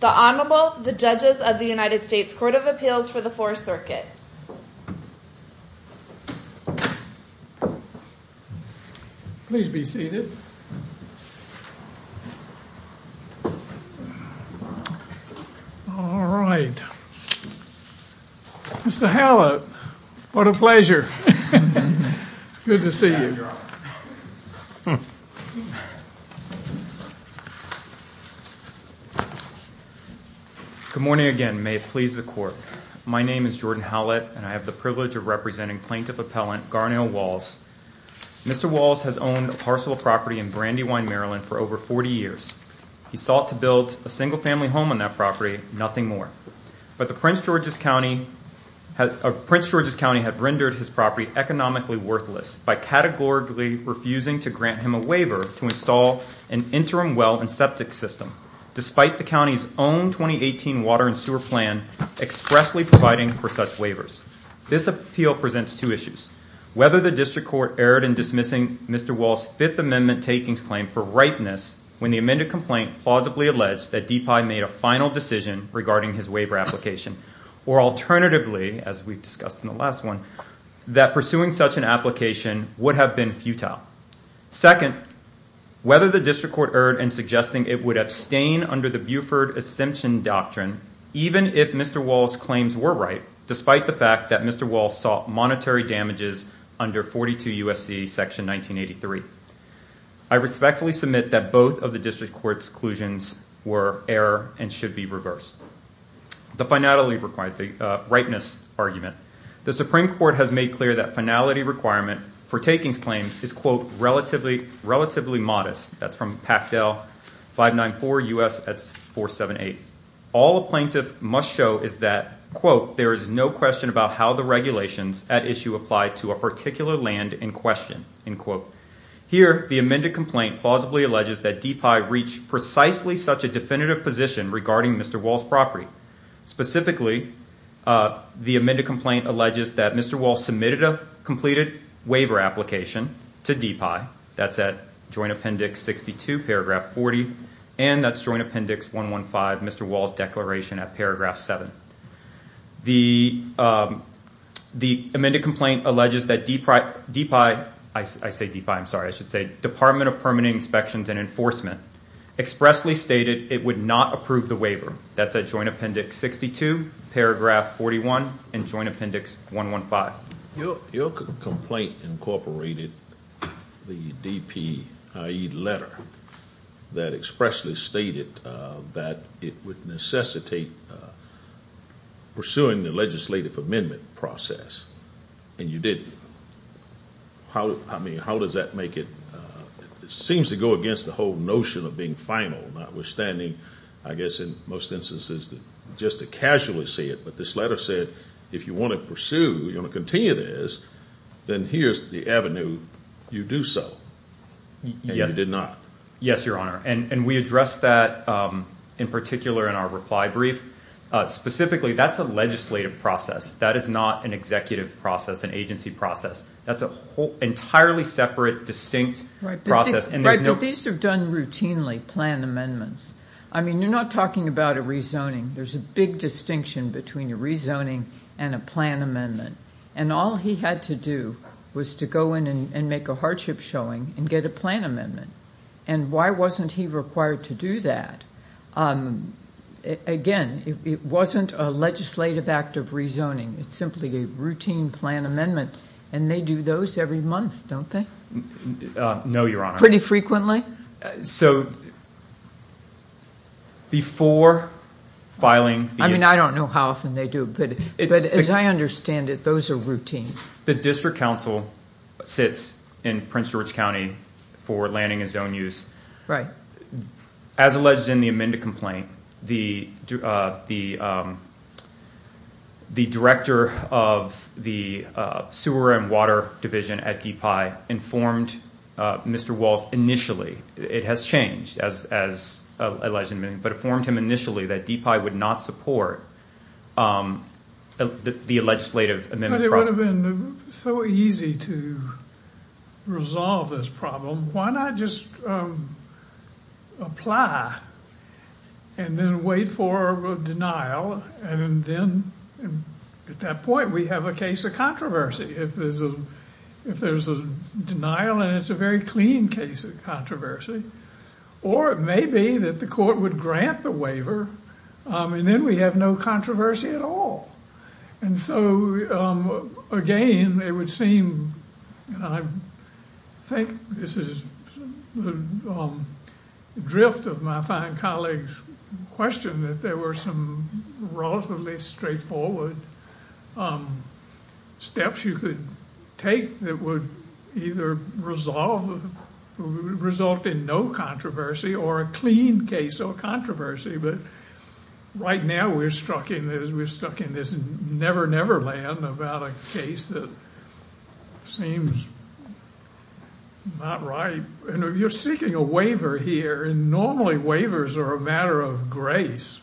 The Honorable, the Judges of the United States Court of Appeals for the Fourth Circuit. Please be seated. All right. Mr. Hallett, what a pleasure. Good to see you. Good morning, Your Honor. Good morning again. May it please the Court. My name is Jordan Hallett, and I have the privilege of representing Plaintiff Appellant Garnell Walls. Mr. Walls has owned a parcel of property in Brandywine, Maryland, for over 40 years. He sought to build a single-family home on that property, nothing more. But Prince George's County had rendered his property economically worthless by categorically refusing to grant him a waiver to install an interim well and septic system, despite the county's own 2018 water and sewer plan expressly providing for such waivers. This appeal presents two issues. Whether the District Court erred in dismissing Mr. Walls' Fifth Amendment takings claim for ripeness when the amended complaint plausibly alleged that DePuy made a final decision regarding his waiver application, or alternatively, as we discussed in the last one, that pursuing such an application would have been futile. Second, whether the District Court erred in suggesting it would abstain under the Buford exemption doctrine, even if Mr. Walls' claims were right, despite the fact that Mr. Walls sought monetary damages under 42 U.S.C. section 1983. I respectfully submit that both of the District Court's conclusions were error and should be reversed. The finality requirement, the ripeness argument. The Supreme Court has made clear that finality requirement for takings claims is, quote, relatively modest. That's from Packdale 594 U.S. 478. All a plaintiff must show is that, quote, there is no question about how the regulations at issue apply to a particular land in question. End quote. Here, the amended complaint plausibly alleges that DePuy reached precisely such a definitive position regarding Mr. Walls' property. Specifically, the amended complaint alleges that Mr. Walls submitted a completed waiver application to DePuy. That's at Joint Appendix 62, paragraph 40. And that's Joint Appendix 115, Mr. Walls' declaration at paragraph 7. The amended complaint alleges that DePuy, I say DePuy, I'm sorry, I should say Department of Permanent Inspections and Enforcement, expressly stated it would not approve the waiver. That's at Joint Appendix 62, paragraph 41, and Joint Appendix 115. Your complaint incorporated the DP letter that expressly stated that it would necessitate pursuing the legislative amendment process, and you didn't. I mean, how does that make it? It seems to go against the whole notion of being final, notwithstanding, I guess in most instances, just to casually say it. But this letter said if you want to pursue, you want to continue this, then here's the avenue. You do so. And you did not. Yes, Your Honor. And we addressed that in particular in our reply brief. Specifically, that's a legislative process. That is not an executive process, an agency process. That's an entirely separate, distinct process. Right, but these are done routinely, planned amendments. I mean, you're not talking about a rezoning. There's a big distinction between a rezoning and a plan amendment. And all he had to do was to go in and make a hardship showing and get a plan amendment. And why wasn't he required to do that? Again, it wasn't a legislative act of rezoning. It's simply a routine plan amendment, and they do those every month, don't they? No, Your Honor. Pretty frequently? So, before filing the- I mean, I don't know how often they do it, but as I understand it, those are routine. The district council sits in Prince George County for landing and zone use. Right. As alleged in the amended complaint, the director of the sewer and water division at DPI informed Mr. Walz initially. It has changed, as alleged in the amendment, but it informed him initially that DPI would not support the legislative amendment process. But it would have been so easy to resolve this problem. Why not just apply and then wait for a denial? And then, at that point, we have a case of controversy. If there's a denial and it's a very clean case of controversy. Or it may be that the court would grant the waiver, and then we have no controversy at all. And so, again, it would seem, and I think this is the drift of my fine colleague's question, that there were some relatively straightforward steps you could take that would either result in no controversy or a clean case of controversy. But right now, we're stuck in this never-never land about a case that seems not right. And you're seeking a waiver here, and normally waivers are a matter of grace.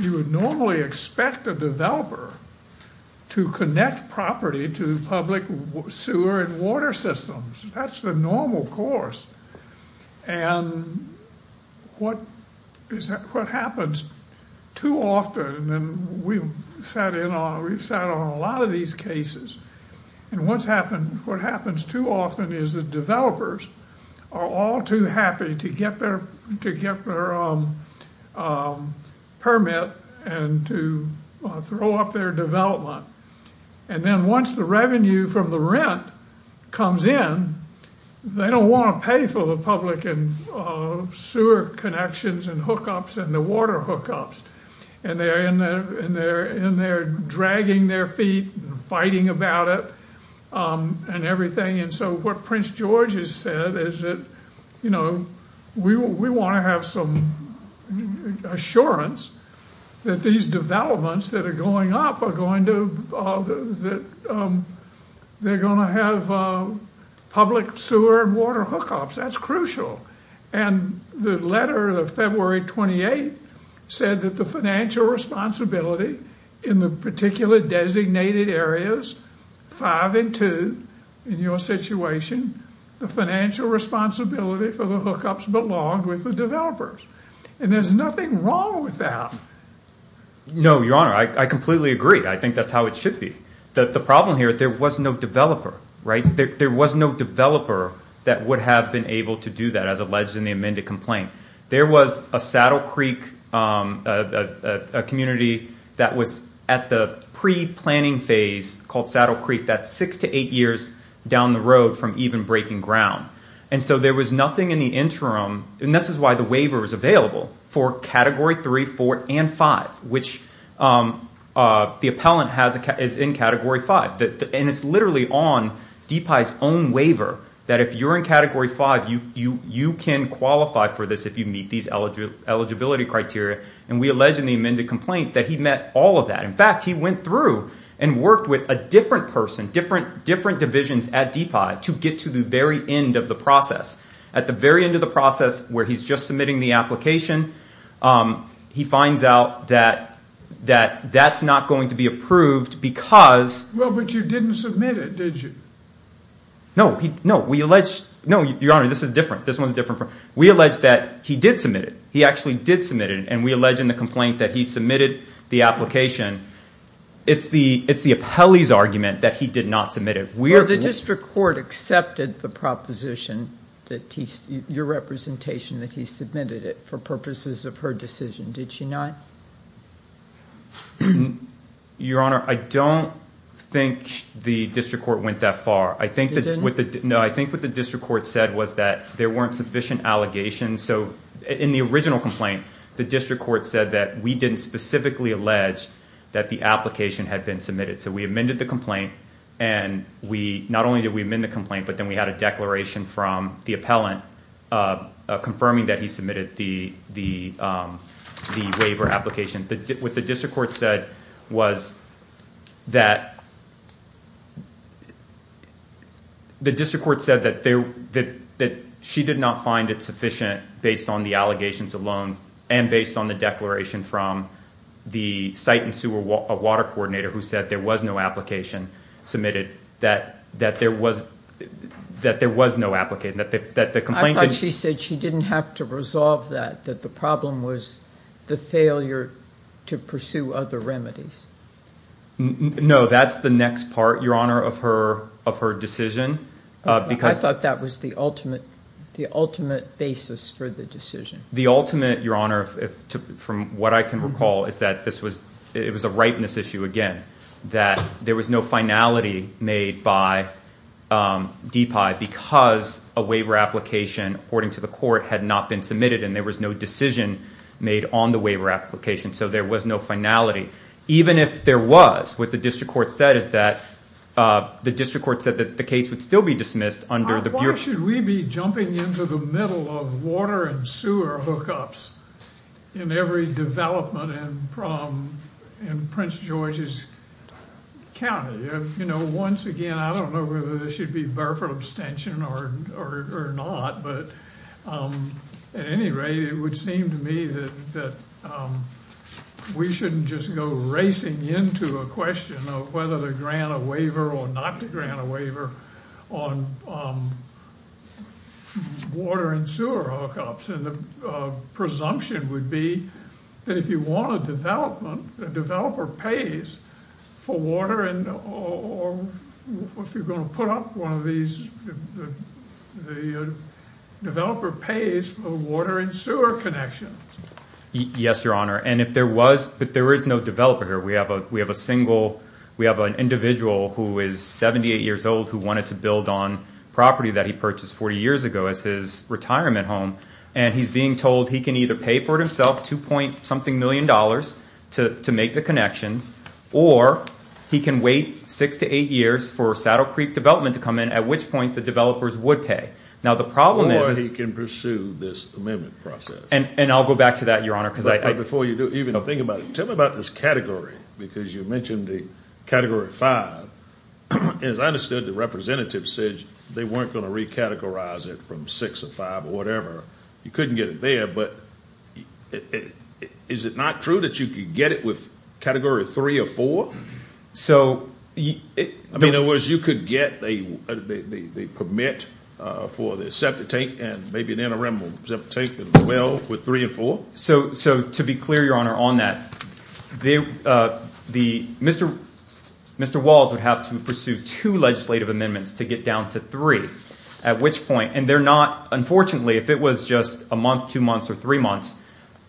You would normally expect a developer to connect property to public sewer and water systems. That's the normal course. And what happens too often, and we've sat on a lot of these cases, and what happens too often is that developers are all too happy to get their permit and to throw up their development. And then once the revenue from the rent comes in, they don't want to pay for the public sewer connections and hookups and the water hookups. And they're dragging their feet and fighting about it and everything. And so what Prince George has said is that, you know, we want to have some assurance that these developments that are going up are going to have public sewer and water hookups. That's crucial. And the letter of February 28 said that the financial responsibility in the particular designated areas, five and two in your situation, the financial responsibility for the hookups belonged with the developers. And there's nothing wrong with that. No, Your Honor. I completely agree. I think that's how it should be. The problem here, there was no developer, right? There was no developer that would have been able to do that, as alleged in the amended complaint. There was a Saddle Creek community that was at the pre-planning phase called Saddle Creek. That's six to eight years down the road from even breaking ground. And so there was nothing in the interim. And this is why the waiver was available for Category 3, 4, and 5, which the appellant is in Category 5. And it's literally on DPI's own waiver that if you're in Category 5, you can qualify for this if you meet these eligibility criteria. And we allege in the amended complaint that he met all of that. In fact, he went through and worked with a different person, different divisions at DPI to get to the very end of the process. At the very end of the process where he's just submitting the application, he finds out that that's not going to be approved because Well, but you didn't submit it, did you? No. No, Your Honor, this is different. This one's different. We allege that he did submit it. He actually did submit it, and we allege in the complaint that he submitted the application. It's the appellee's argument that he did not submit it. Well, the district court accepted the proposition, your representation, that he submitted it for purposes of her decision, did she not? Your Honor, I don't think the district court went that far. It didn't? No, I think what the district court said was that there weren't sufficient allegations. So in the original complaint, the district court said that we didn't specifically allege that the application had been submitted. So we amended the complaint, and not only did we amend the complaint, but then we had a declaration from the appellant confirming that he submitted the waiver application. What the district court said was that the district court said that she did not find it sufficient based on the allegations alone and based on the declaration from the site and sewer water coordinator who said there was no application submitted, that there was no application. I thought she said she didn't have to resolve that, that the problem was the failure to pursue other remedies. No, that's the next part, your Honor, of her decision. I thought that was the ultimate basis for the decision. The ultimate, your Honor, from what I can recall, is that it was a ripeness issue again, that there was no finality made by DPI because a waiver application, according to the court, had not been submitted, and there was no decision made on the waiver application. So there was no finality, even if there was. What the district court said is that the district court said that the case would still be dismissed under the Bureau. Why should we be jumping into the middle of water and sewer hookups in every development in Prince George's County? You know, once again, I don't know whether this should be barefoot abstention or not, but at any rate, it would seem to me that we shouldn't just go racing into a question of whether to grant a waiver or not to grant a waiver on water and sewer hookups. And the presumption would be that if you want a development, the developer pays for water, or if you're going to put up one of these, the developer pays for water and sewer connections. Yes, your Honor. And if there is no developer here, we have an individual who is 78 years old who wanted to build on property that he purchased 40 years ago as his retirement home, and he's being told he can either pay for it himself, two point something million dollars to make the connections, or he can wait six to eight years for Saddle Creek Development to come in, at which point the developers would pay. Or he can pursue this amendment process. And I'll go back to that, your Honor. But before you do, even to think about it, tell me about this category, because you mentioned the Category 5. As I understood, the representative said they weren't going to recategorize it from 6 or 5 or whatever. You couldn't get it there, but is it not true that you could get it with Category 3 or 4? So you – I mean, in other words, you could get the permit for the septic tank and maybe an interim septic tank as well with 3 and 4? So to be clear, your Honor, on that, Mr. Walls would have to pursue two legislative amendments to get down to three, at which point – and they're not – unfortunately, if it was just a month, two months, or three months,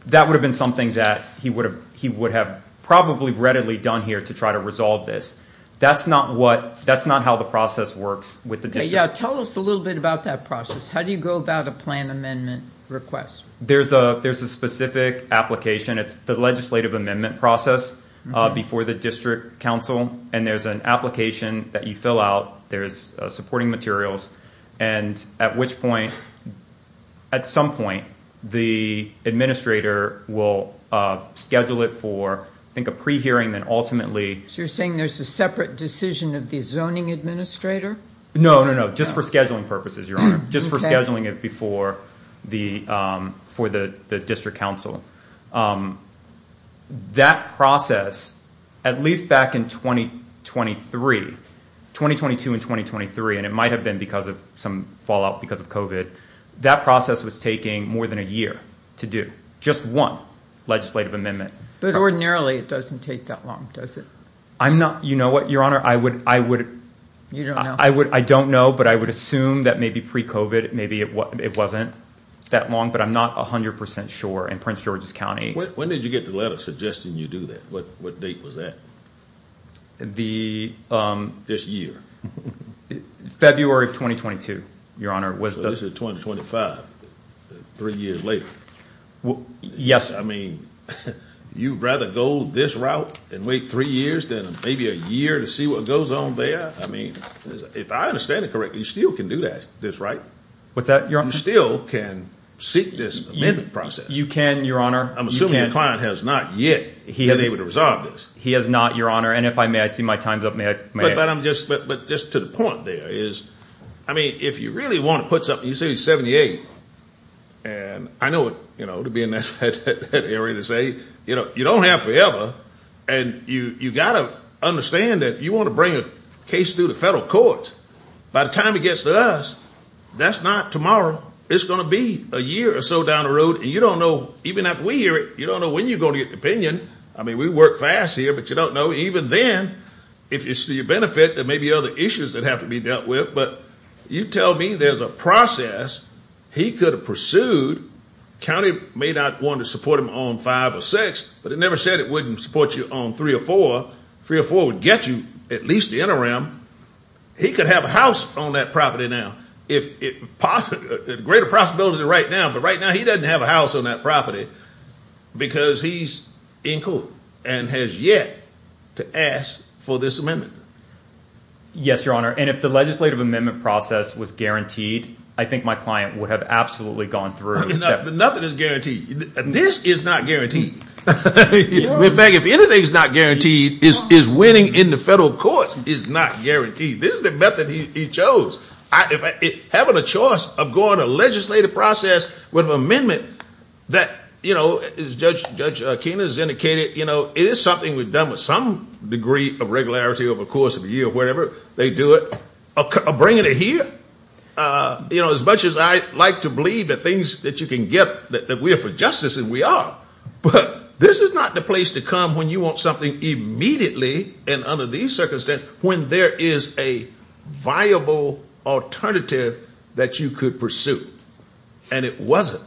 that would have been something that he would have probably readily done here to try to resolve this. That's not what – that's not how the process works with the district. Tell us a little bit about that process. How do you go about a plan amendment request? There's a specific application. It's the legislative amendment process before the district council, and there's an application that you fill out. There's supporting materials, and at which point – at some point, the administrator will schedule it for, I think, a pre-hearing, then ultimately – So you're saying there's a separate decision of the zoning administrator? No, no, no, just for scheduling purposes, Your Honor. Just for scheduling it before the – for the district council. That process, at least back in 2023 – 2022 and 2023, and it might have been because of some fallout because of COVID – that process was taking more than a year to do, just one legislative amendment. But ordinarily, it doesn't take that long, does it? I'm not – you know what, Your Honor? I would – You don't know? I would – I don't know, but I would assume that maybe pre-COVID, maybe it wasn't that long, but I'm not 100% sure in Prince George's County. When did you get the letter suggesting you do that? What date was that? The – This year? February of 2022, Your Honor. So this is 2025, three years later? Yes. I mean, you'd rather go this route and wait three years than maybe a year to see what goes on there? I mean, if I understand it correctly, you still can do that – this, right? What's that, Your Honor? You still can seek this amendment process. You can, Your Honor. I'm assuming the client has not yet been able to resolve this. He has not, Your Honor, and if I may, I see my time's up. May I – But I'm just – but just to the point there is, I mean, if you really want to put something – you say it's 78, and I know it, you know, to be in that area to say, you know, you don't have forever, and you've got to understand that if you want to bring a case through the federal courts, by the time it gets to us, that's not tomorrow. It's going to be a year or so down the road, and you don't know – even after we hear it, you don't know when you're going to get an opinion. I mean, we work fast here, but you don't know. Even then, if it's to your benefit, there may be other issues that have to be dealt with, but you tell me there's a process he could have pursued. The county may not want to support him on 5 or 6, but it never said it wouldn't support you on 3 or 4. 3 or 4 would get you at least the interim. He could have a house on that property now. There's a greater possibility right now, but right now he doesn't have a house on that property because he's in court and has yet to ask for this amendment. Yes, Your Honor, and if the legislative amendment process was guaranteed, I think my client would have absolutely gone through. Nothing is guaranteed. This is not guaranteed. In fact, if anything is not guaranteed, is winning in the federal courts is not guaranteed. This is the method he chose. Having a choice of going to a legislative process with an amendment that, as Judge Kena has indicated, it is something we've done with some degree of regularity over the course of a year or whatever they do it, or bringing it here. As much as I like to believe the things that you can get, that we are for justice, and we are, but this is not the place to come when you want something immediately and under these circumstances when there is a viable alternative that you could pursue. And it wasn't.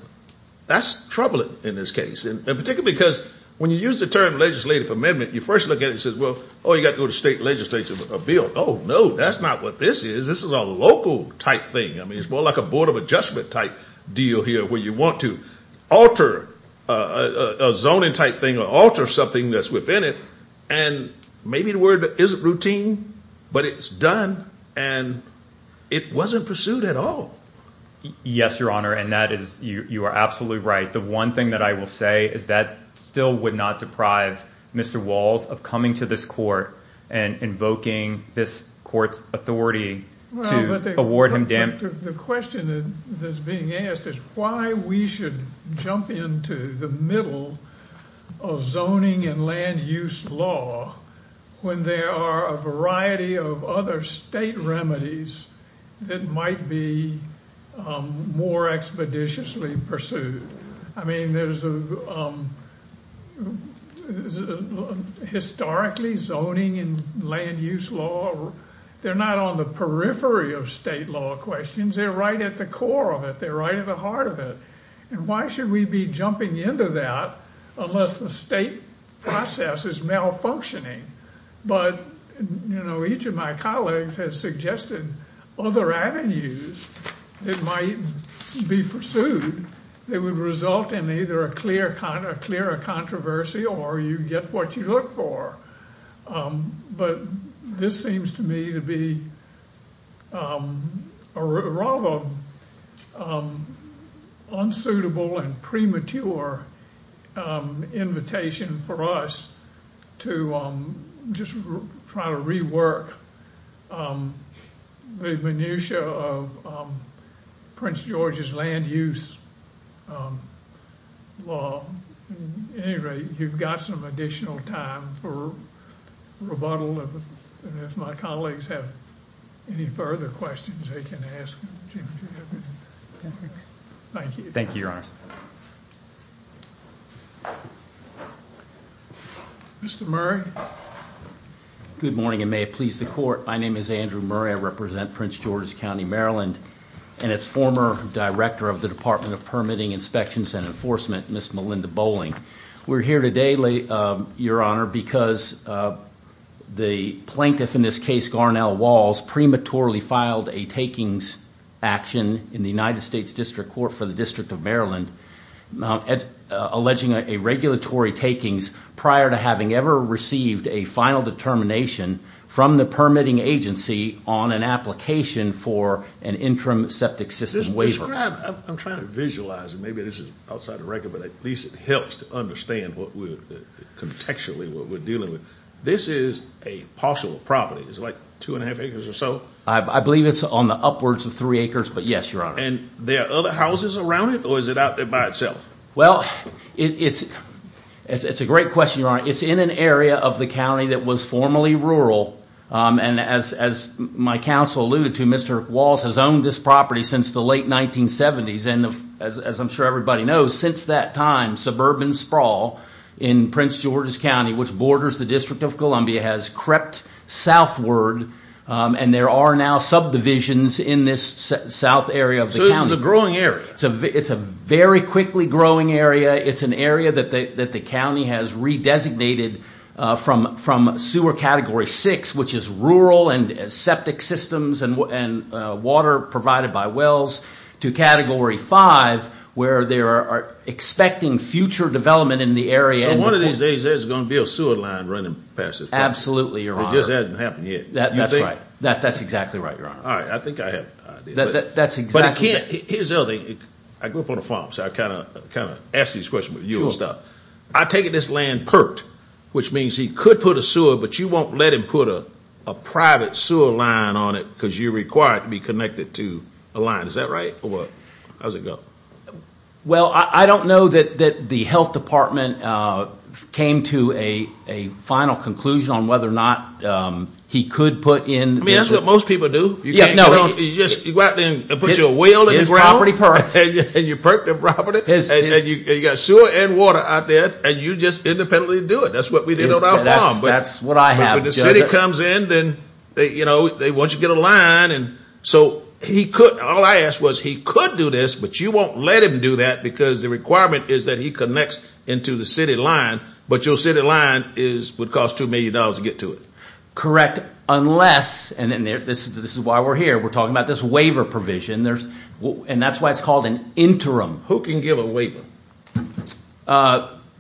That's troubling in this case, and particularly because when you use the term legislative amendment, you first look at it and say, well, oh, you've got to go to state legislature for a bill. Oh, no, that's not what this is. This is a local type thing. I mean, it's more like a Board of Adjustment type deal here where you want to alter a zoning type thing or alter something that's within it, and maybe the word isn't routine, but it's done, and it wasn't pursued at all. Yes, Your Honor, and that is, you are absolutely right. The one thing that I will say is that still would not deprive Mr. Walls of coming to this court and invoking this court's authority to award him damages. The question that's being asked is why we should jump into the middle of zoning and land use law when there are a variety of other state remedies that might be more expeditiously pursued. I mean, historically, zoning and land use law, they're not on the periphery of state law questions. They're right at the core of it. They're right at the heart of it, and why should we be jumping into that unless the state process is malfunctioning? But, you know, each of my colleagues has suggested other avenues that might be pursued that would result in either a clearer controversy or you get what you look for. But this seems to me to be a rather unsuitable and premature invitation for us to just try to rework the minutia of Prince George's land use law. At any rate, you've got some additional time for rebuttal if my colleagues have any further questions they can ask. Thank you. Thank you, Your Honors. Mr. Murray. Good morning, and may it please the Court. My name is Andrew Murray. I represent Prince George's County, Maryland, and its former director of the Department of Permitting, Inspections, and Enforcement, Ms. Melinda Bowling. We're here today, Your Honor, because the plaintiff in this case, Garnell Walls, prematurely filed a takings action in the United States District Court for the District of Maryland, alleging a regulatory takings prior to having ever received a final determination from the permitting agency on an application for an interim septic system waiver. I'm trying to visualize it. Maybe this is outside the record, but at least it helps to understand what we're – contextually what we're dealing with. This is a parcel of property. Is it like two and a half acres or so? I believe it's on the upwards of three acres, but yes, Your Honor. And there are other houses around it, or is it out there by itself? Well, it's a great question, Your Honor. It's in an area of the county that was formerly rural, and as my counsel alluded to, Mr. Walls has owned this property since the late 1970s. And as I'm sure everybody knows, since that time, suburban sprawl in Prince George's County, which borders the District of Columbia, has crept southward. And there are now subdivisions in this south area of the county. So this is a growing area. It's a very quickly growing area. It's an area that the county has re-designated from sewer Category 6, which is rural and septic systems and water provided by wells, to Category 5, where they are expecting future development in the area. So one of these days there's going to be a sewer line running past this property. Absolutely, Your Honor. It just hasn't happened yet. That's right. That's exactly right, Your Honor. All right. I think I have an idea. That's exactly right. Here's the other thing. I grew up on a farm, so I kind of asked you this question with you and stuff. I take it this land perked, which means he could put a sewer, but you won't let him put a private sewer line on it because you require it to be connected to a line. Is that right or what? How does it go? Well, I don't know that the health department came to a final conclusion on whether or not he could put in – I mean, that's what most people do. You just go out there and put your well in the ground. His property perked. And you perked the property, and you got sewer and water out there, and you just independently do it. That's what we did on our farm. That's what I have. When the city comes in, then they want you to get a line. So he could – all I asked was he could do this, but you won't let him do that because the requirement is that he connects into the city line. But your city line would cost $2 million to get to it. Correct, unless – and this is why we're here. We're talking about this waiver provision, and that's why it's called an interim. Who can give a waiver?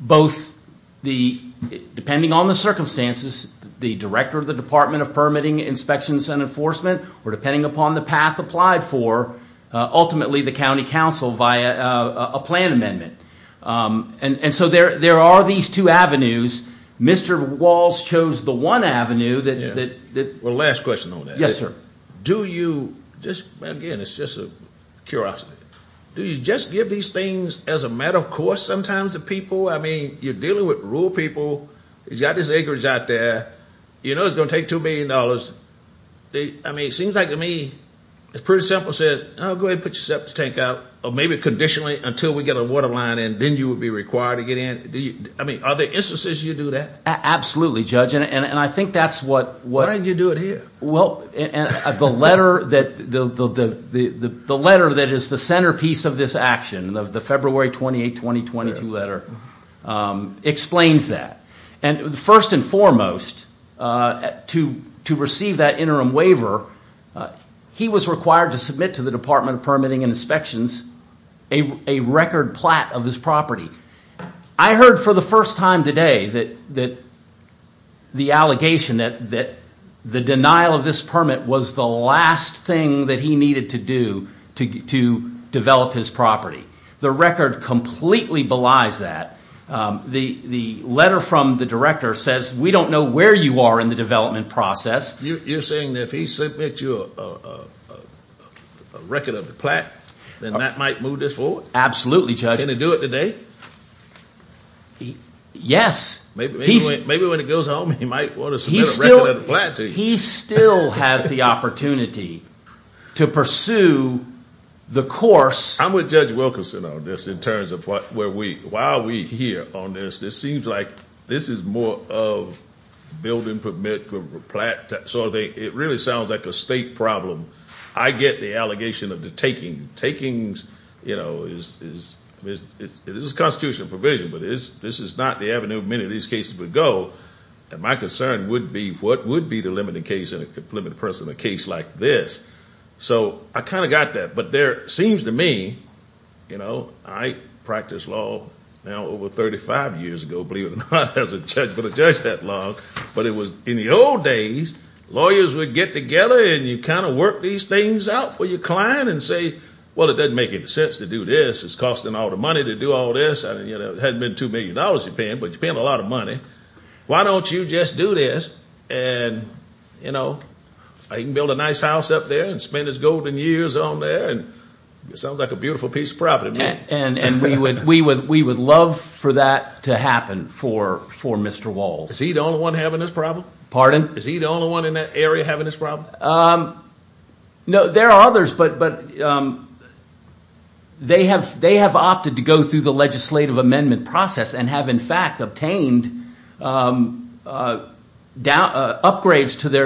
Both the – depending on the circumstances, the director of the Department of Permitting, Inspections and Enforcement, or depending upon the path applied for, ultimately the county council via a plan amendment. And so there are these two avenues. Mr. Walls chose the one avenue that – Well, last question on that. Yes, sir. Do you – again, it's just a curiosity. Do you just give these things as a matter of course sometimes to people? I mean, you're dealing with rural people. You've got this acreage out there. You know it's going to take $2 million. I mean, it seems like to me it's pretty simple to say, oh, go ahead and put yourself in the tank out, or maybe conditionally until we get a water line in, then you would be required to get in. I mean, are there instances you do that? Absolutely, Judge, and I think that's what – Why didn't you do it here? Well, the letter that is the centerpiece of this action, the February 28, 2022 letter, explains that. And first and foremost, to receive that interim waiver, he was required to submit to the Department of Permitting and Inspections a record plat of his property. I heard for the first time today that the allegation that the denial of this permit was the last thing that he needed to do to develop his property. The record completely belies that. The letter from the director says we don't know where you are in the development process. You're saying that if he submits you a record of the plat, then that might move this forward? Absolutely, Judge. Can he do it today? Yes. Maybe when he goes home, he might want to submit a record of the plat to you. He still has the opportunity to pursue the course. I'm with Judge Wilkinson on this in terms of why we're here on this. It seems like this is more of building permit for plat. So it really sounds like a state problem. I get the allegation of the taking. It is a constitutional provision, but this is not the avenue many of these cases would go. And my concern would be what would be the limiting case in a case like this. So I kind of got that. But there seems to me, you know, I practiced law now over 35 years ago, believe it or not, as a judge, but a judge that long. But in the old days, lawyers would get together and you kind of work these things out for your client and say, well, it doesn't make any sense to do this. It's costing all the money to do all this. It hadn't been $2 million you're paying, but you're paying a lot of money. Why don't you just do this? And, you know, I can build a nice house up there and spend as golden years on there. It sounds like a beautiful piece of property to me. And we would love for that to happen for Mr. Walsh. Is he the only one having this problem? Pardon? Is he the only one in that area having this problem? No, there are others, but they have opted to go through the legislative amendment process and have, in fact, obtained upgrades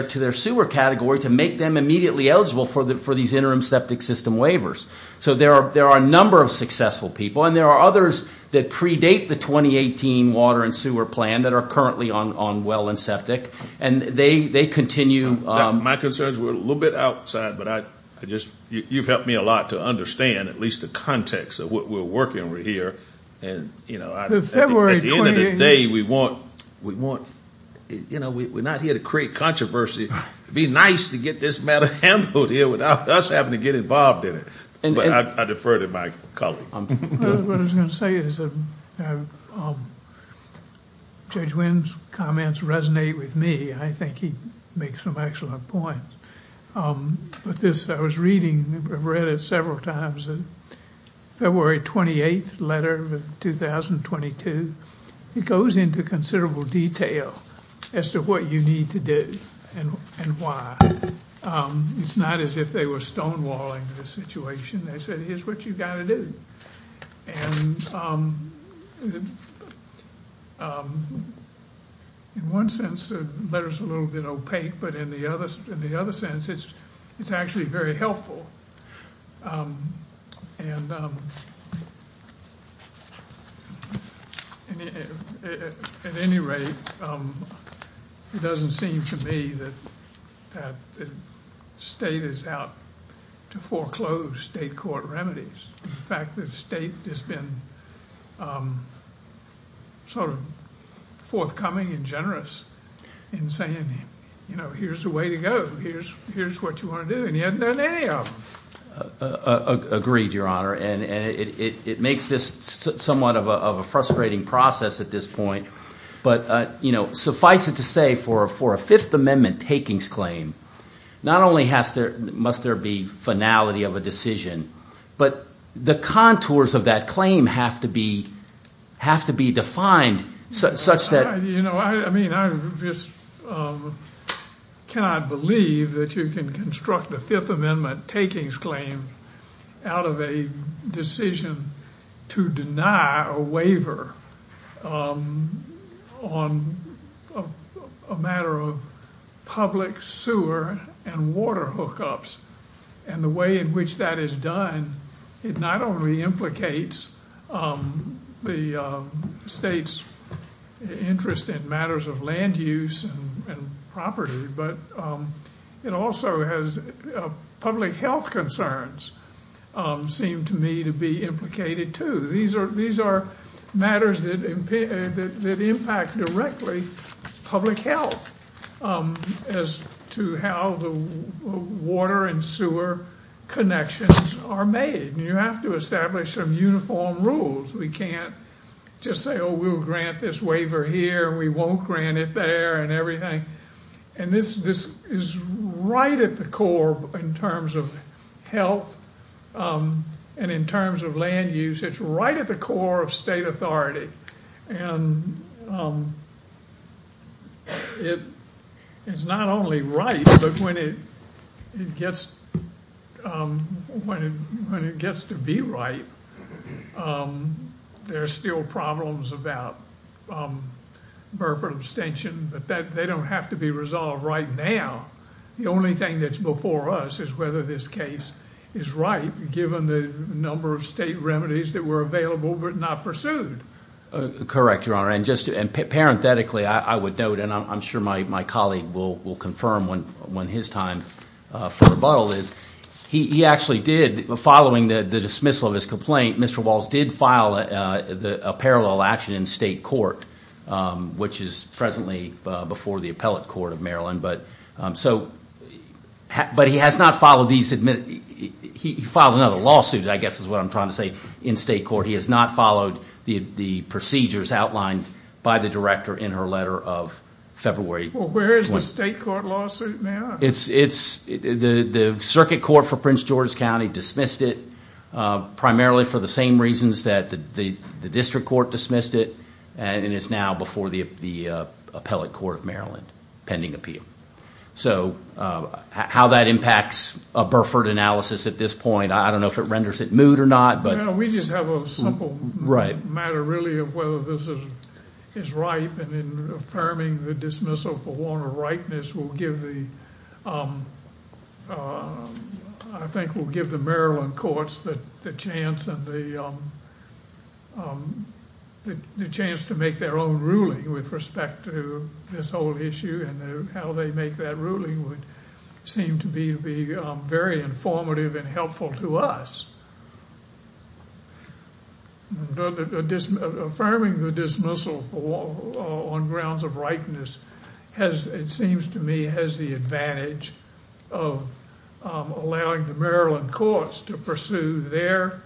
to their sewer category to make them immediately eligible for these interim septic system waivers. So there are a number of successful people, and there are others that predate the 2018 water and sewer plan that are currently on well and septic. And they continue. My concerns were a little bit outside, but I just you've helped me a lot to understand at least the context of what we're working with here. And, you know, at the end of the day, we want, you know, we're not here to create controversy. It would be nice to get this matter handled here without us having to get involved in it. But I defer to my colleague. What I was going to say is Judge Wynn's comments resonate with me. I think he makes some excellent points. But this, I was reading, I've read it several times, the February 28th letter of 2022. It goes into considerable detail as to what you need to do and why. It's not as if they were stonewalling the situation. They said, here's what you've got to do. And in one sense, the letter's a little bit opaque, but in the other sense, it's actually very helpful. And at any rate, it doesn't seem to me that the state is out to foreclose state court remedies. In fact, the state has been sort of forthcoming and generous in saying, you know, here's the way to go. Here's what you want to do. Agreed, Your Honor. And it makes this somewhat of a frustrating process at this point. But, you know, suffice it to say, for a Fifth Amendment takings claim, not only must there be finality of a decision, but the contours of that claim have to be defined such that. You know, I mean, I just cannot believe that you can construct a Fifth Amendment takings claim out of a decision to deny a waiver on a matter of public sewer and water hookups. And the way in which that is done, it not only implicates the state's interest in matters of land use and property, but it also has public health concerns seem to me to be implicated, too. These are matters that impact directly public health as to how the water and sewer connections are made. You have to establish some uniform rules. We can't just say, oh, we'll grant this waiver here and we won't grant it there and everything. And this is right at the core in terms of health and in terms of land use. It's right at the core of state authority. And it is not only right, but when it gets to be right, there are still problems about Burford abstention. But they don't have to be resolved right now. The only thing that's before us is whether this case is right, given the number of state remedies that were available but not pursued. Correct, Your Honor. And just parenthetically, I would note, and I'm sure my colleague will confirm when his time for rebuttal is, he actually did, following the dismissal of his complaint, Mr. Walz did file a parallel action in state court, which is presently before the appellate court of Maryland. But he has not followed these, he filed another lawsuit, I guess is what I'm trying to say, in state court. He has not followed the procedures outlined by the director in her letter of February. Well, where is the state court lawsuit now? The circuit court for Prince George County dismissed it, primarily for the same reasons that the district court dismissed it, and it's now before the appellate court of Maryland, pending appeal. So how that impacts a Burford analysis at this point, I don't know if it renders it moot or not. We just have a simple matter, really, of whether this is right, and then affirming the dismissal for warrant of rightness will give the, I think will give the Maryland courts the chance to make their own ruling with respect to this whole issue, and how they make that ruling would seem to be very informative and helpful to us. Affirming the dismissal on grounds of rightness has, it seems to me, has the advantage of allowing the Maryland courts to pursue their,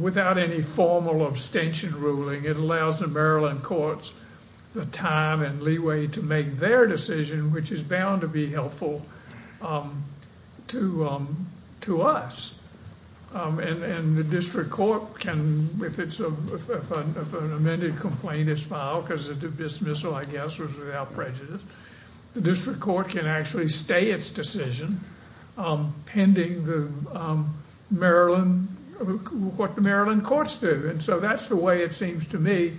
without any formal abstention ruling, it allows the Maryland courts the time and leeway to make their decision, which is bound to be helpful to us. And the district court can, if an amended complaint is filed, because the dismissal, I guess, was without prejudice, the district court can actually stay its decision, pending the Maryland, what the Maryland courts do. And so that's the way it seems to me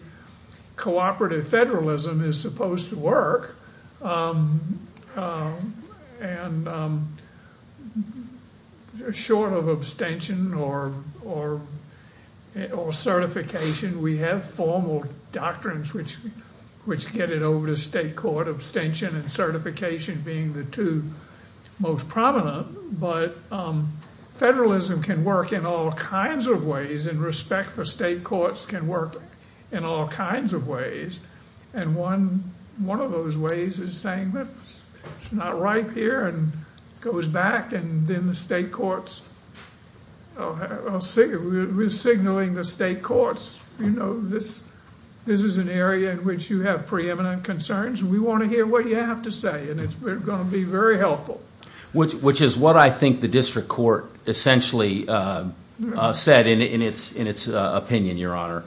cooperative federalism is supposed to work. And short of abstention or certification, we have formal doctrines, which get it over to state court, abstention and certification being the two most prominent, but federalism can work in all kinds of ways, and respect for state courts can work in all kinds of ways. And one of those ways is saying that it's not right here, and goes back, and then the state courts are signaling the state courts, you know, this is an area in which you have preeminent concerns, and we want to hear what you have to say, and it's going to be very helpful. Which is what I think the district court essentially said in its opinion, Your Honor.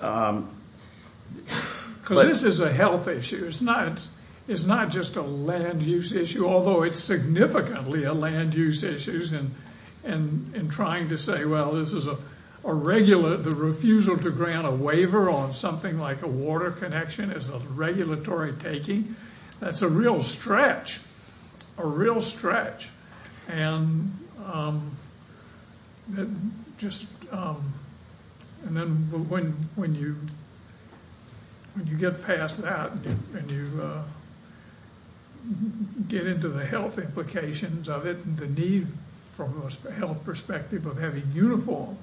Because this is a health issue, it's not just a land use issue, although it's significantly a land use issue in trying to say, well, this is a regular, the refusal to grant a waiver on something like a water connection is a regulatory taking. That's a real stretch, a real stretch. And then when you get past that, and you get into the health implications of it, and the need from a health perspective of having uniform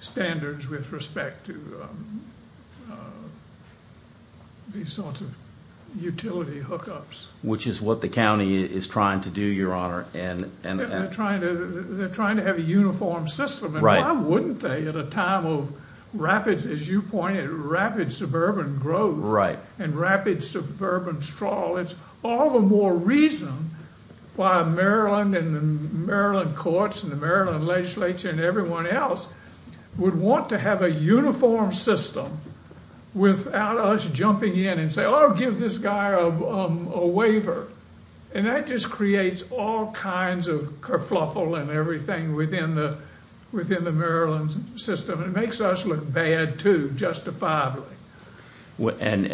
standards with respect to these sorts of utility hookups. Which is what the county is trying to do, Your Honor. They're trying to have a uniform system, and why wouldn't they at a time of rapid, as you pointed, Maryland and the Maryland courts and the Maryland legislature and everyone else, would want to have a uniform system without us jumping in and saying, oh, give this guy a waiver. And that just creates all kinds of kerfuffle and everything within the Maryland system. It makes us look bad, too, justifiably. And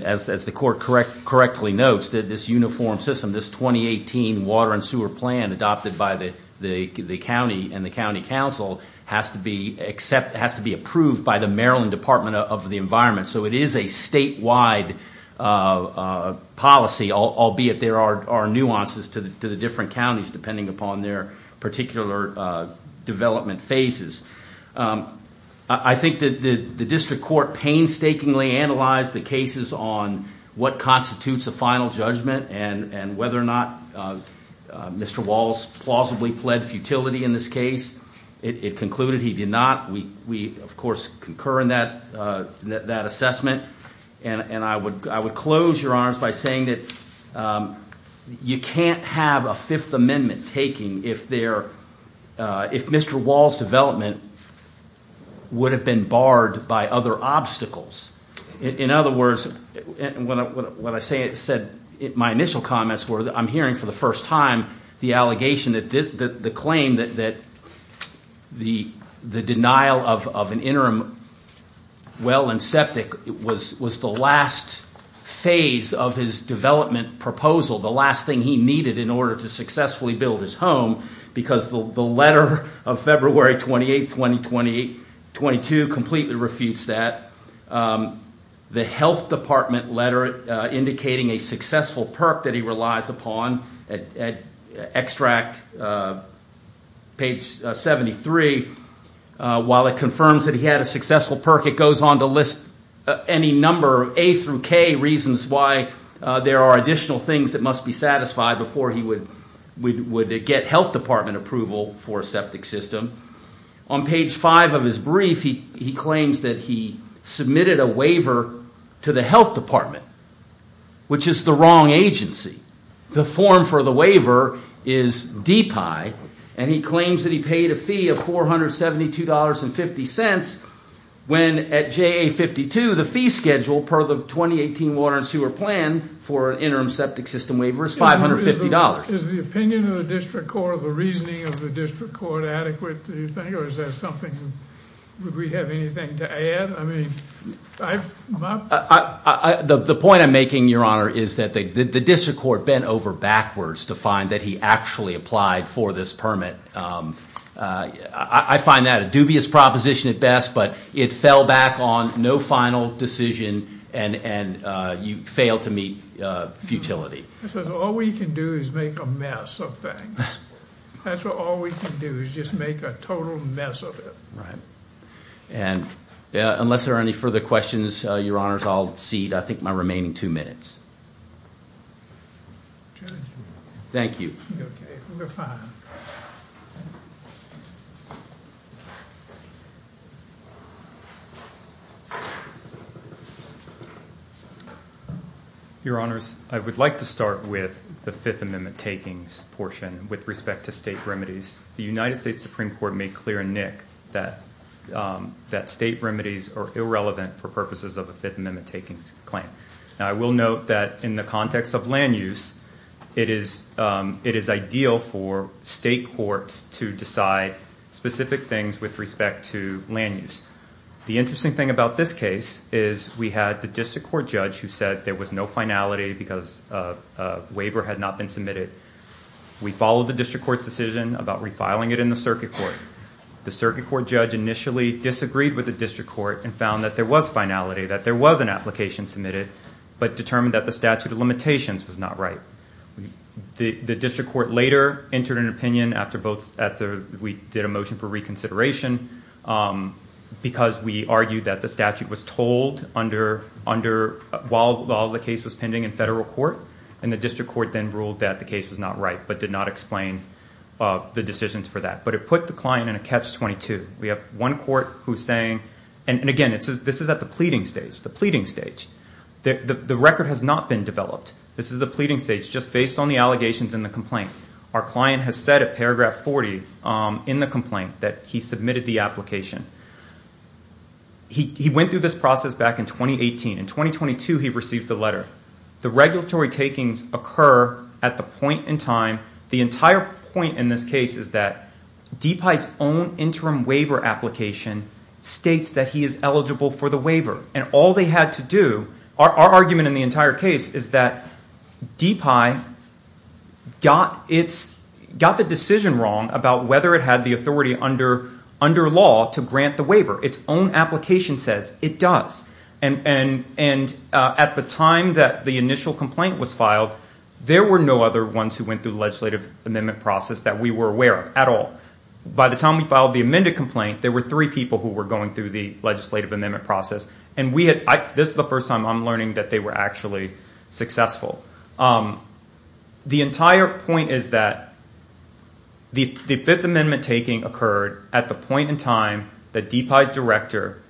as the court correctly notes, this uniform system, this 2018 water and sewer plan adopted by the county and the county council has to be approved by the Maryland Department of the Environment. So it is a statewide policy, albeit there are nuances to the different counties, depending upon their particular development phases. I think the district court painstakingly analyzed the cases on what constitutes a final judgment and whether or not Mr. Walls plausibly pled futility in this case. It concluded he did not. We, of course, concur in that assessment. And I would close, Your Honors, by saying that you can't have a Fifth Amendment taking if Mr. Walls' development would have been barred by other obstacles. In other words, what I said in my initial comments were I'm hearing for the first time the allegation, the claim that the denial of an interim well and septic was the last phase of his development proposal, the last thing he needed in order to successfully build his home, because the letter of February 28, 2022 completely refutes that. The health department letter indicating a successful perk that he relies upon, extract page 73, while it confirms that he had a successful perk, it goes on to list any number of A through K reasons why there are additional things that must be satisfied before he would get health department approval for a septic system. On page 5 of his brief, he claims that he submitted a waiver to the health department, which is the wrong agency. The form for the waiver is DPI, and he claims that he paid a fee of $472.50 when at JA-52, the fee schedule per the 2018 water and sewer plan for an interim septic system waiver is $550. Is the opinion of the district court or the reasoning of the district court adequate, do you think, or is that something that we have anything to add? The point I'm making, Your Honor, is that the district court bent over backwards to find that he actually applied for this permit. I find that a dubious proposition at best, but it fell back on no final decision, and you failed to meet futility. All we can do is make a mess of things. That's all we can do is just make a total mess of it. Unless there are any further questions, Your Honors, I'll cede, I think, my remaining two minutes. Thank you. Okay, we're fine. Your Honors, I would like to start with the Fifth Amendment takings portion with respect to state remedies. The United States Supreme Court made clear in Nick that state remedies are irrelevant for purposes of a Fifth Amendment takings claim. I will note that in the context of land use, it is ideal for state courts to decide specific things with respect to land use. The interesting thing about this case is we had the district court judge who said there was no finality because a waiver had not been submitted. We followed the district court's decision about refiling it in the circuit court. The circuit court judge initially disagreed with the district court and found that there was finality, that there was an application submitted, but determined that the statute of limitations was not right. The district court later entered an opinion after we did a motion for reconsideration because we argued that the statute was told while the case was pending in federal court, and the district court then ruled that the case was not right but did not explain the decisions for that. But it put the client in a catch-22. We have one court who is saying, and again, this is at the pleading stage. The record has not been developed. This is the pleading stage just based on the allegations and the complaint. Our client has said at paragraph 40 in the complaint that he submitted the application. He went through this process back in 2018. In 2022, he received the letter. The regulatory takings occur at the point in time, the entire point in this case is that DPI's own interim waiver application states that he is eligible for the waiver, and all they had to do, our argument in the entire case is that DPI got the decision wrong about whether it had the authority under law to grant the waiver. Its own application says it does, and at the time that the initial complaint was filed, there were no other ones who went through the legislative amendment process that we were aware of at all. By the time we filed the amended complaint, there were three people who were going through the legislative amendment process, and this is the first time I'm learning that they were actually successful. The entire point is that the Fifth Amendment taking occurred at the point in time that DPI's director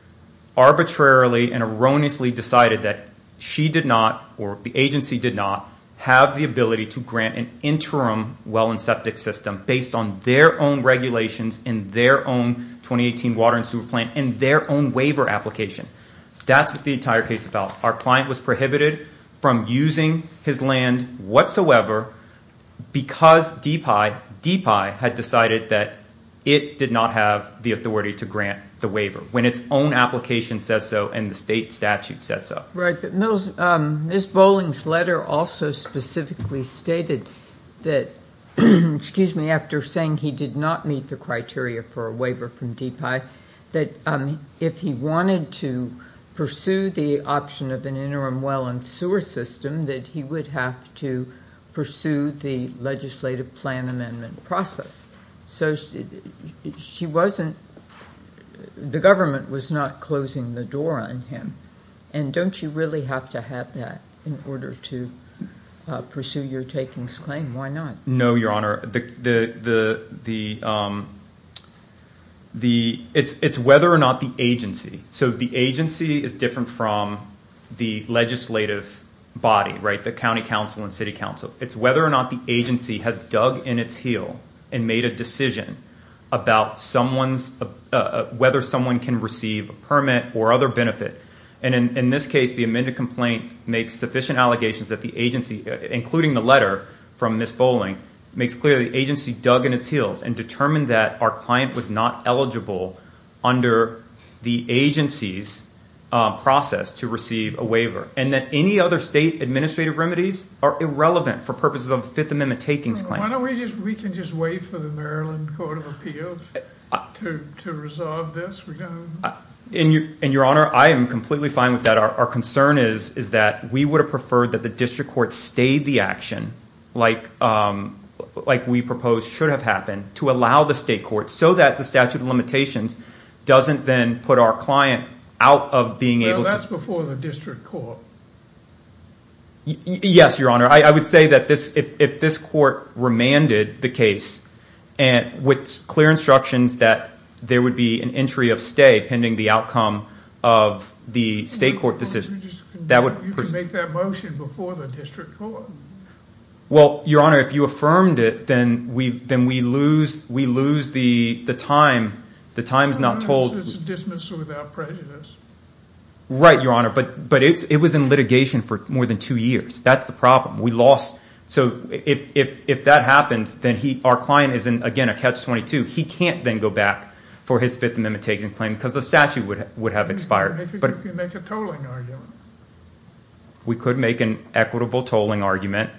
arbitrarily and erroneously decided that she did not or the agency did not have the ability to grant an interim well and septic system based on their own regulations and their own 2018 water and sewer plant and their own waiver application. That's what the entire case is about. Our client was prohibited from using his land whatsoever because DPI had decided that it did not have the authority to grant the waiver when its own application says so and the state statute says so. Right. But Ms. Bolling's letter also specifically stated that, excuse me, after saying he did not meet the criteria for a waiver from DPI, that if he wanted to pursue the option of an interim well and sewer system, that he would have to pursue the legislative plan amendment process. So she wasn't, the government was not closing the door on him, and don't you really have to have that in order to pursue your takings claim? Why not? No, Your Honor. It's whether or not the agency, so the agency is different from the legislative body, right, the county council and city council. It's whether or not the agency has dug in its heel and made a decision about whether someone can receive a permit or other benefit, and in this case the amended complaint makes sufficient allegations that the agency, including the letter from Ms. Bolling, makes clear the agency dug in its heels and determined that our client was not eligible under the agency's process to receive a waiver and that any other state administrative remedies are irrelevant for purposes of the Fifth Amendment takings claim. Why don't we just, we can just wait for the Maryland Court of Appeals to resolve this. And Your Honor, I am completely fine with that. Our concern is that we would have preferred that the district court stayed the action like we proposed should have happened to allow the state court so that the statute of limitations doesn't then put our client out of being able to No, that's before the district court. Yes, Your Honor, I would say that if this court remanded the case with clear instructions that there would be an entry of stay pending the outcome of the state court decision You can make that motion before the district court. Well, Your Honor, if you affirmed it, then we lose the time. The time is not told. It's a dismissal without prejudice. Right, Your Honor. But it was in litigation for more than two years. That's the problem. We lost. So if that happens, then our client is in, again, a catch-22. He can't then go back for his Fifth Amendment taking claim because the statute would have expired. If you make a tolling argument. We could make an equitable tolling argument.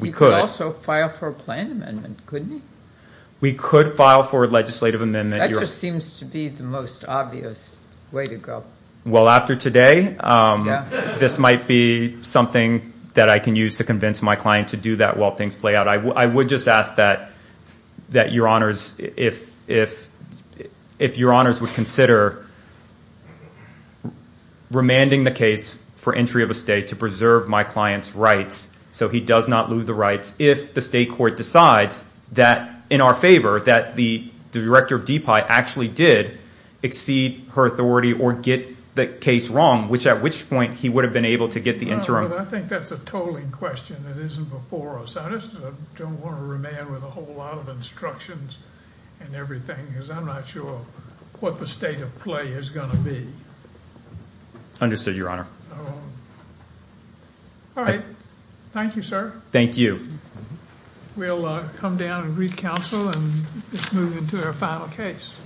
We could. You could also file for a plan amendment, couldn't you? We could file for a legislative amendment. That just seems to be the most obvious way to go. Well, after today, this might be something that I can use to convince my client to do that while things play out. I would just ask that Your Honors, if Your Honors would consider remanding the case for entry of a stay to preserve my client's rights so he does not lose the rights if the state court decides that in our favor, that the director of DPI actually did exceed her authority or get the case wrong, which at which point he would have been able to get the interim. I think that's a tolling question that isn't before us. I just don't want to remand with a whole lot of instructions and everything because I'm not sure what the state of play is going to be. Understood, Your Honor. All right. Thank you, sir. Thank you. We'll come down and read counsel and move into our final case.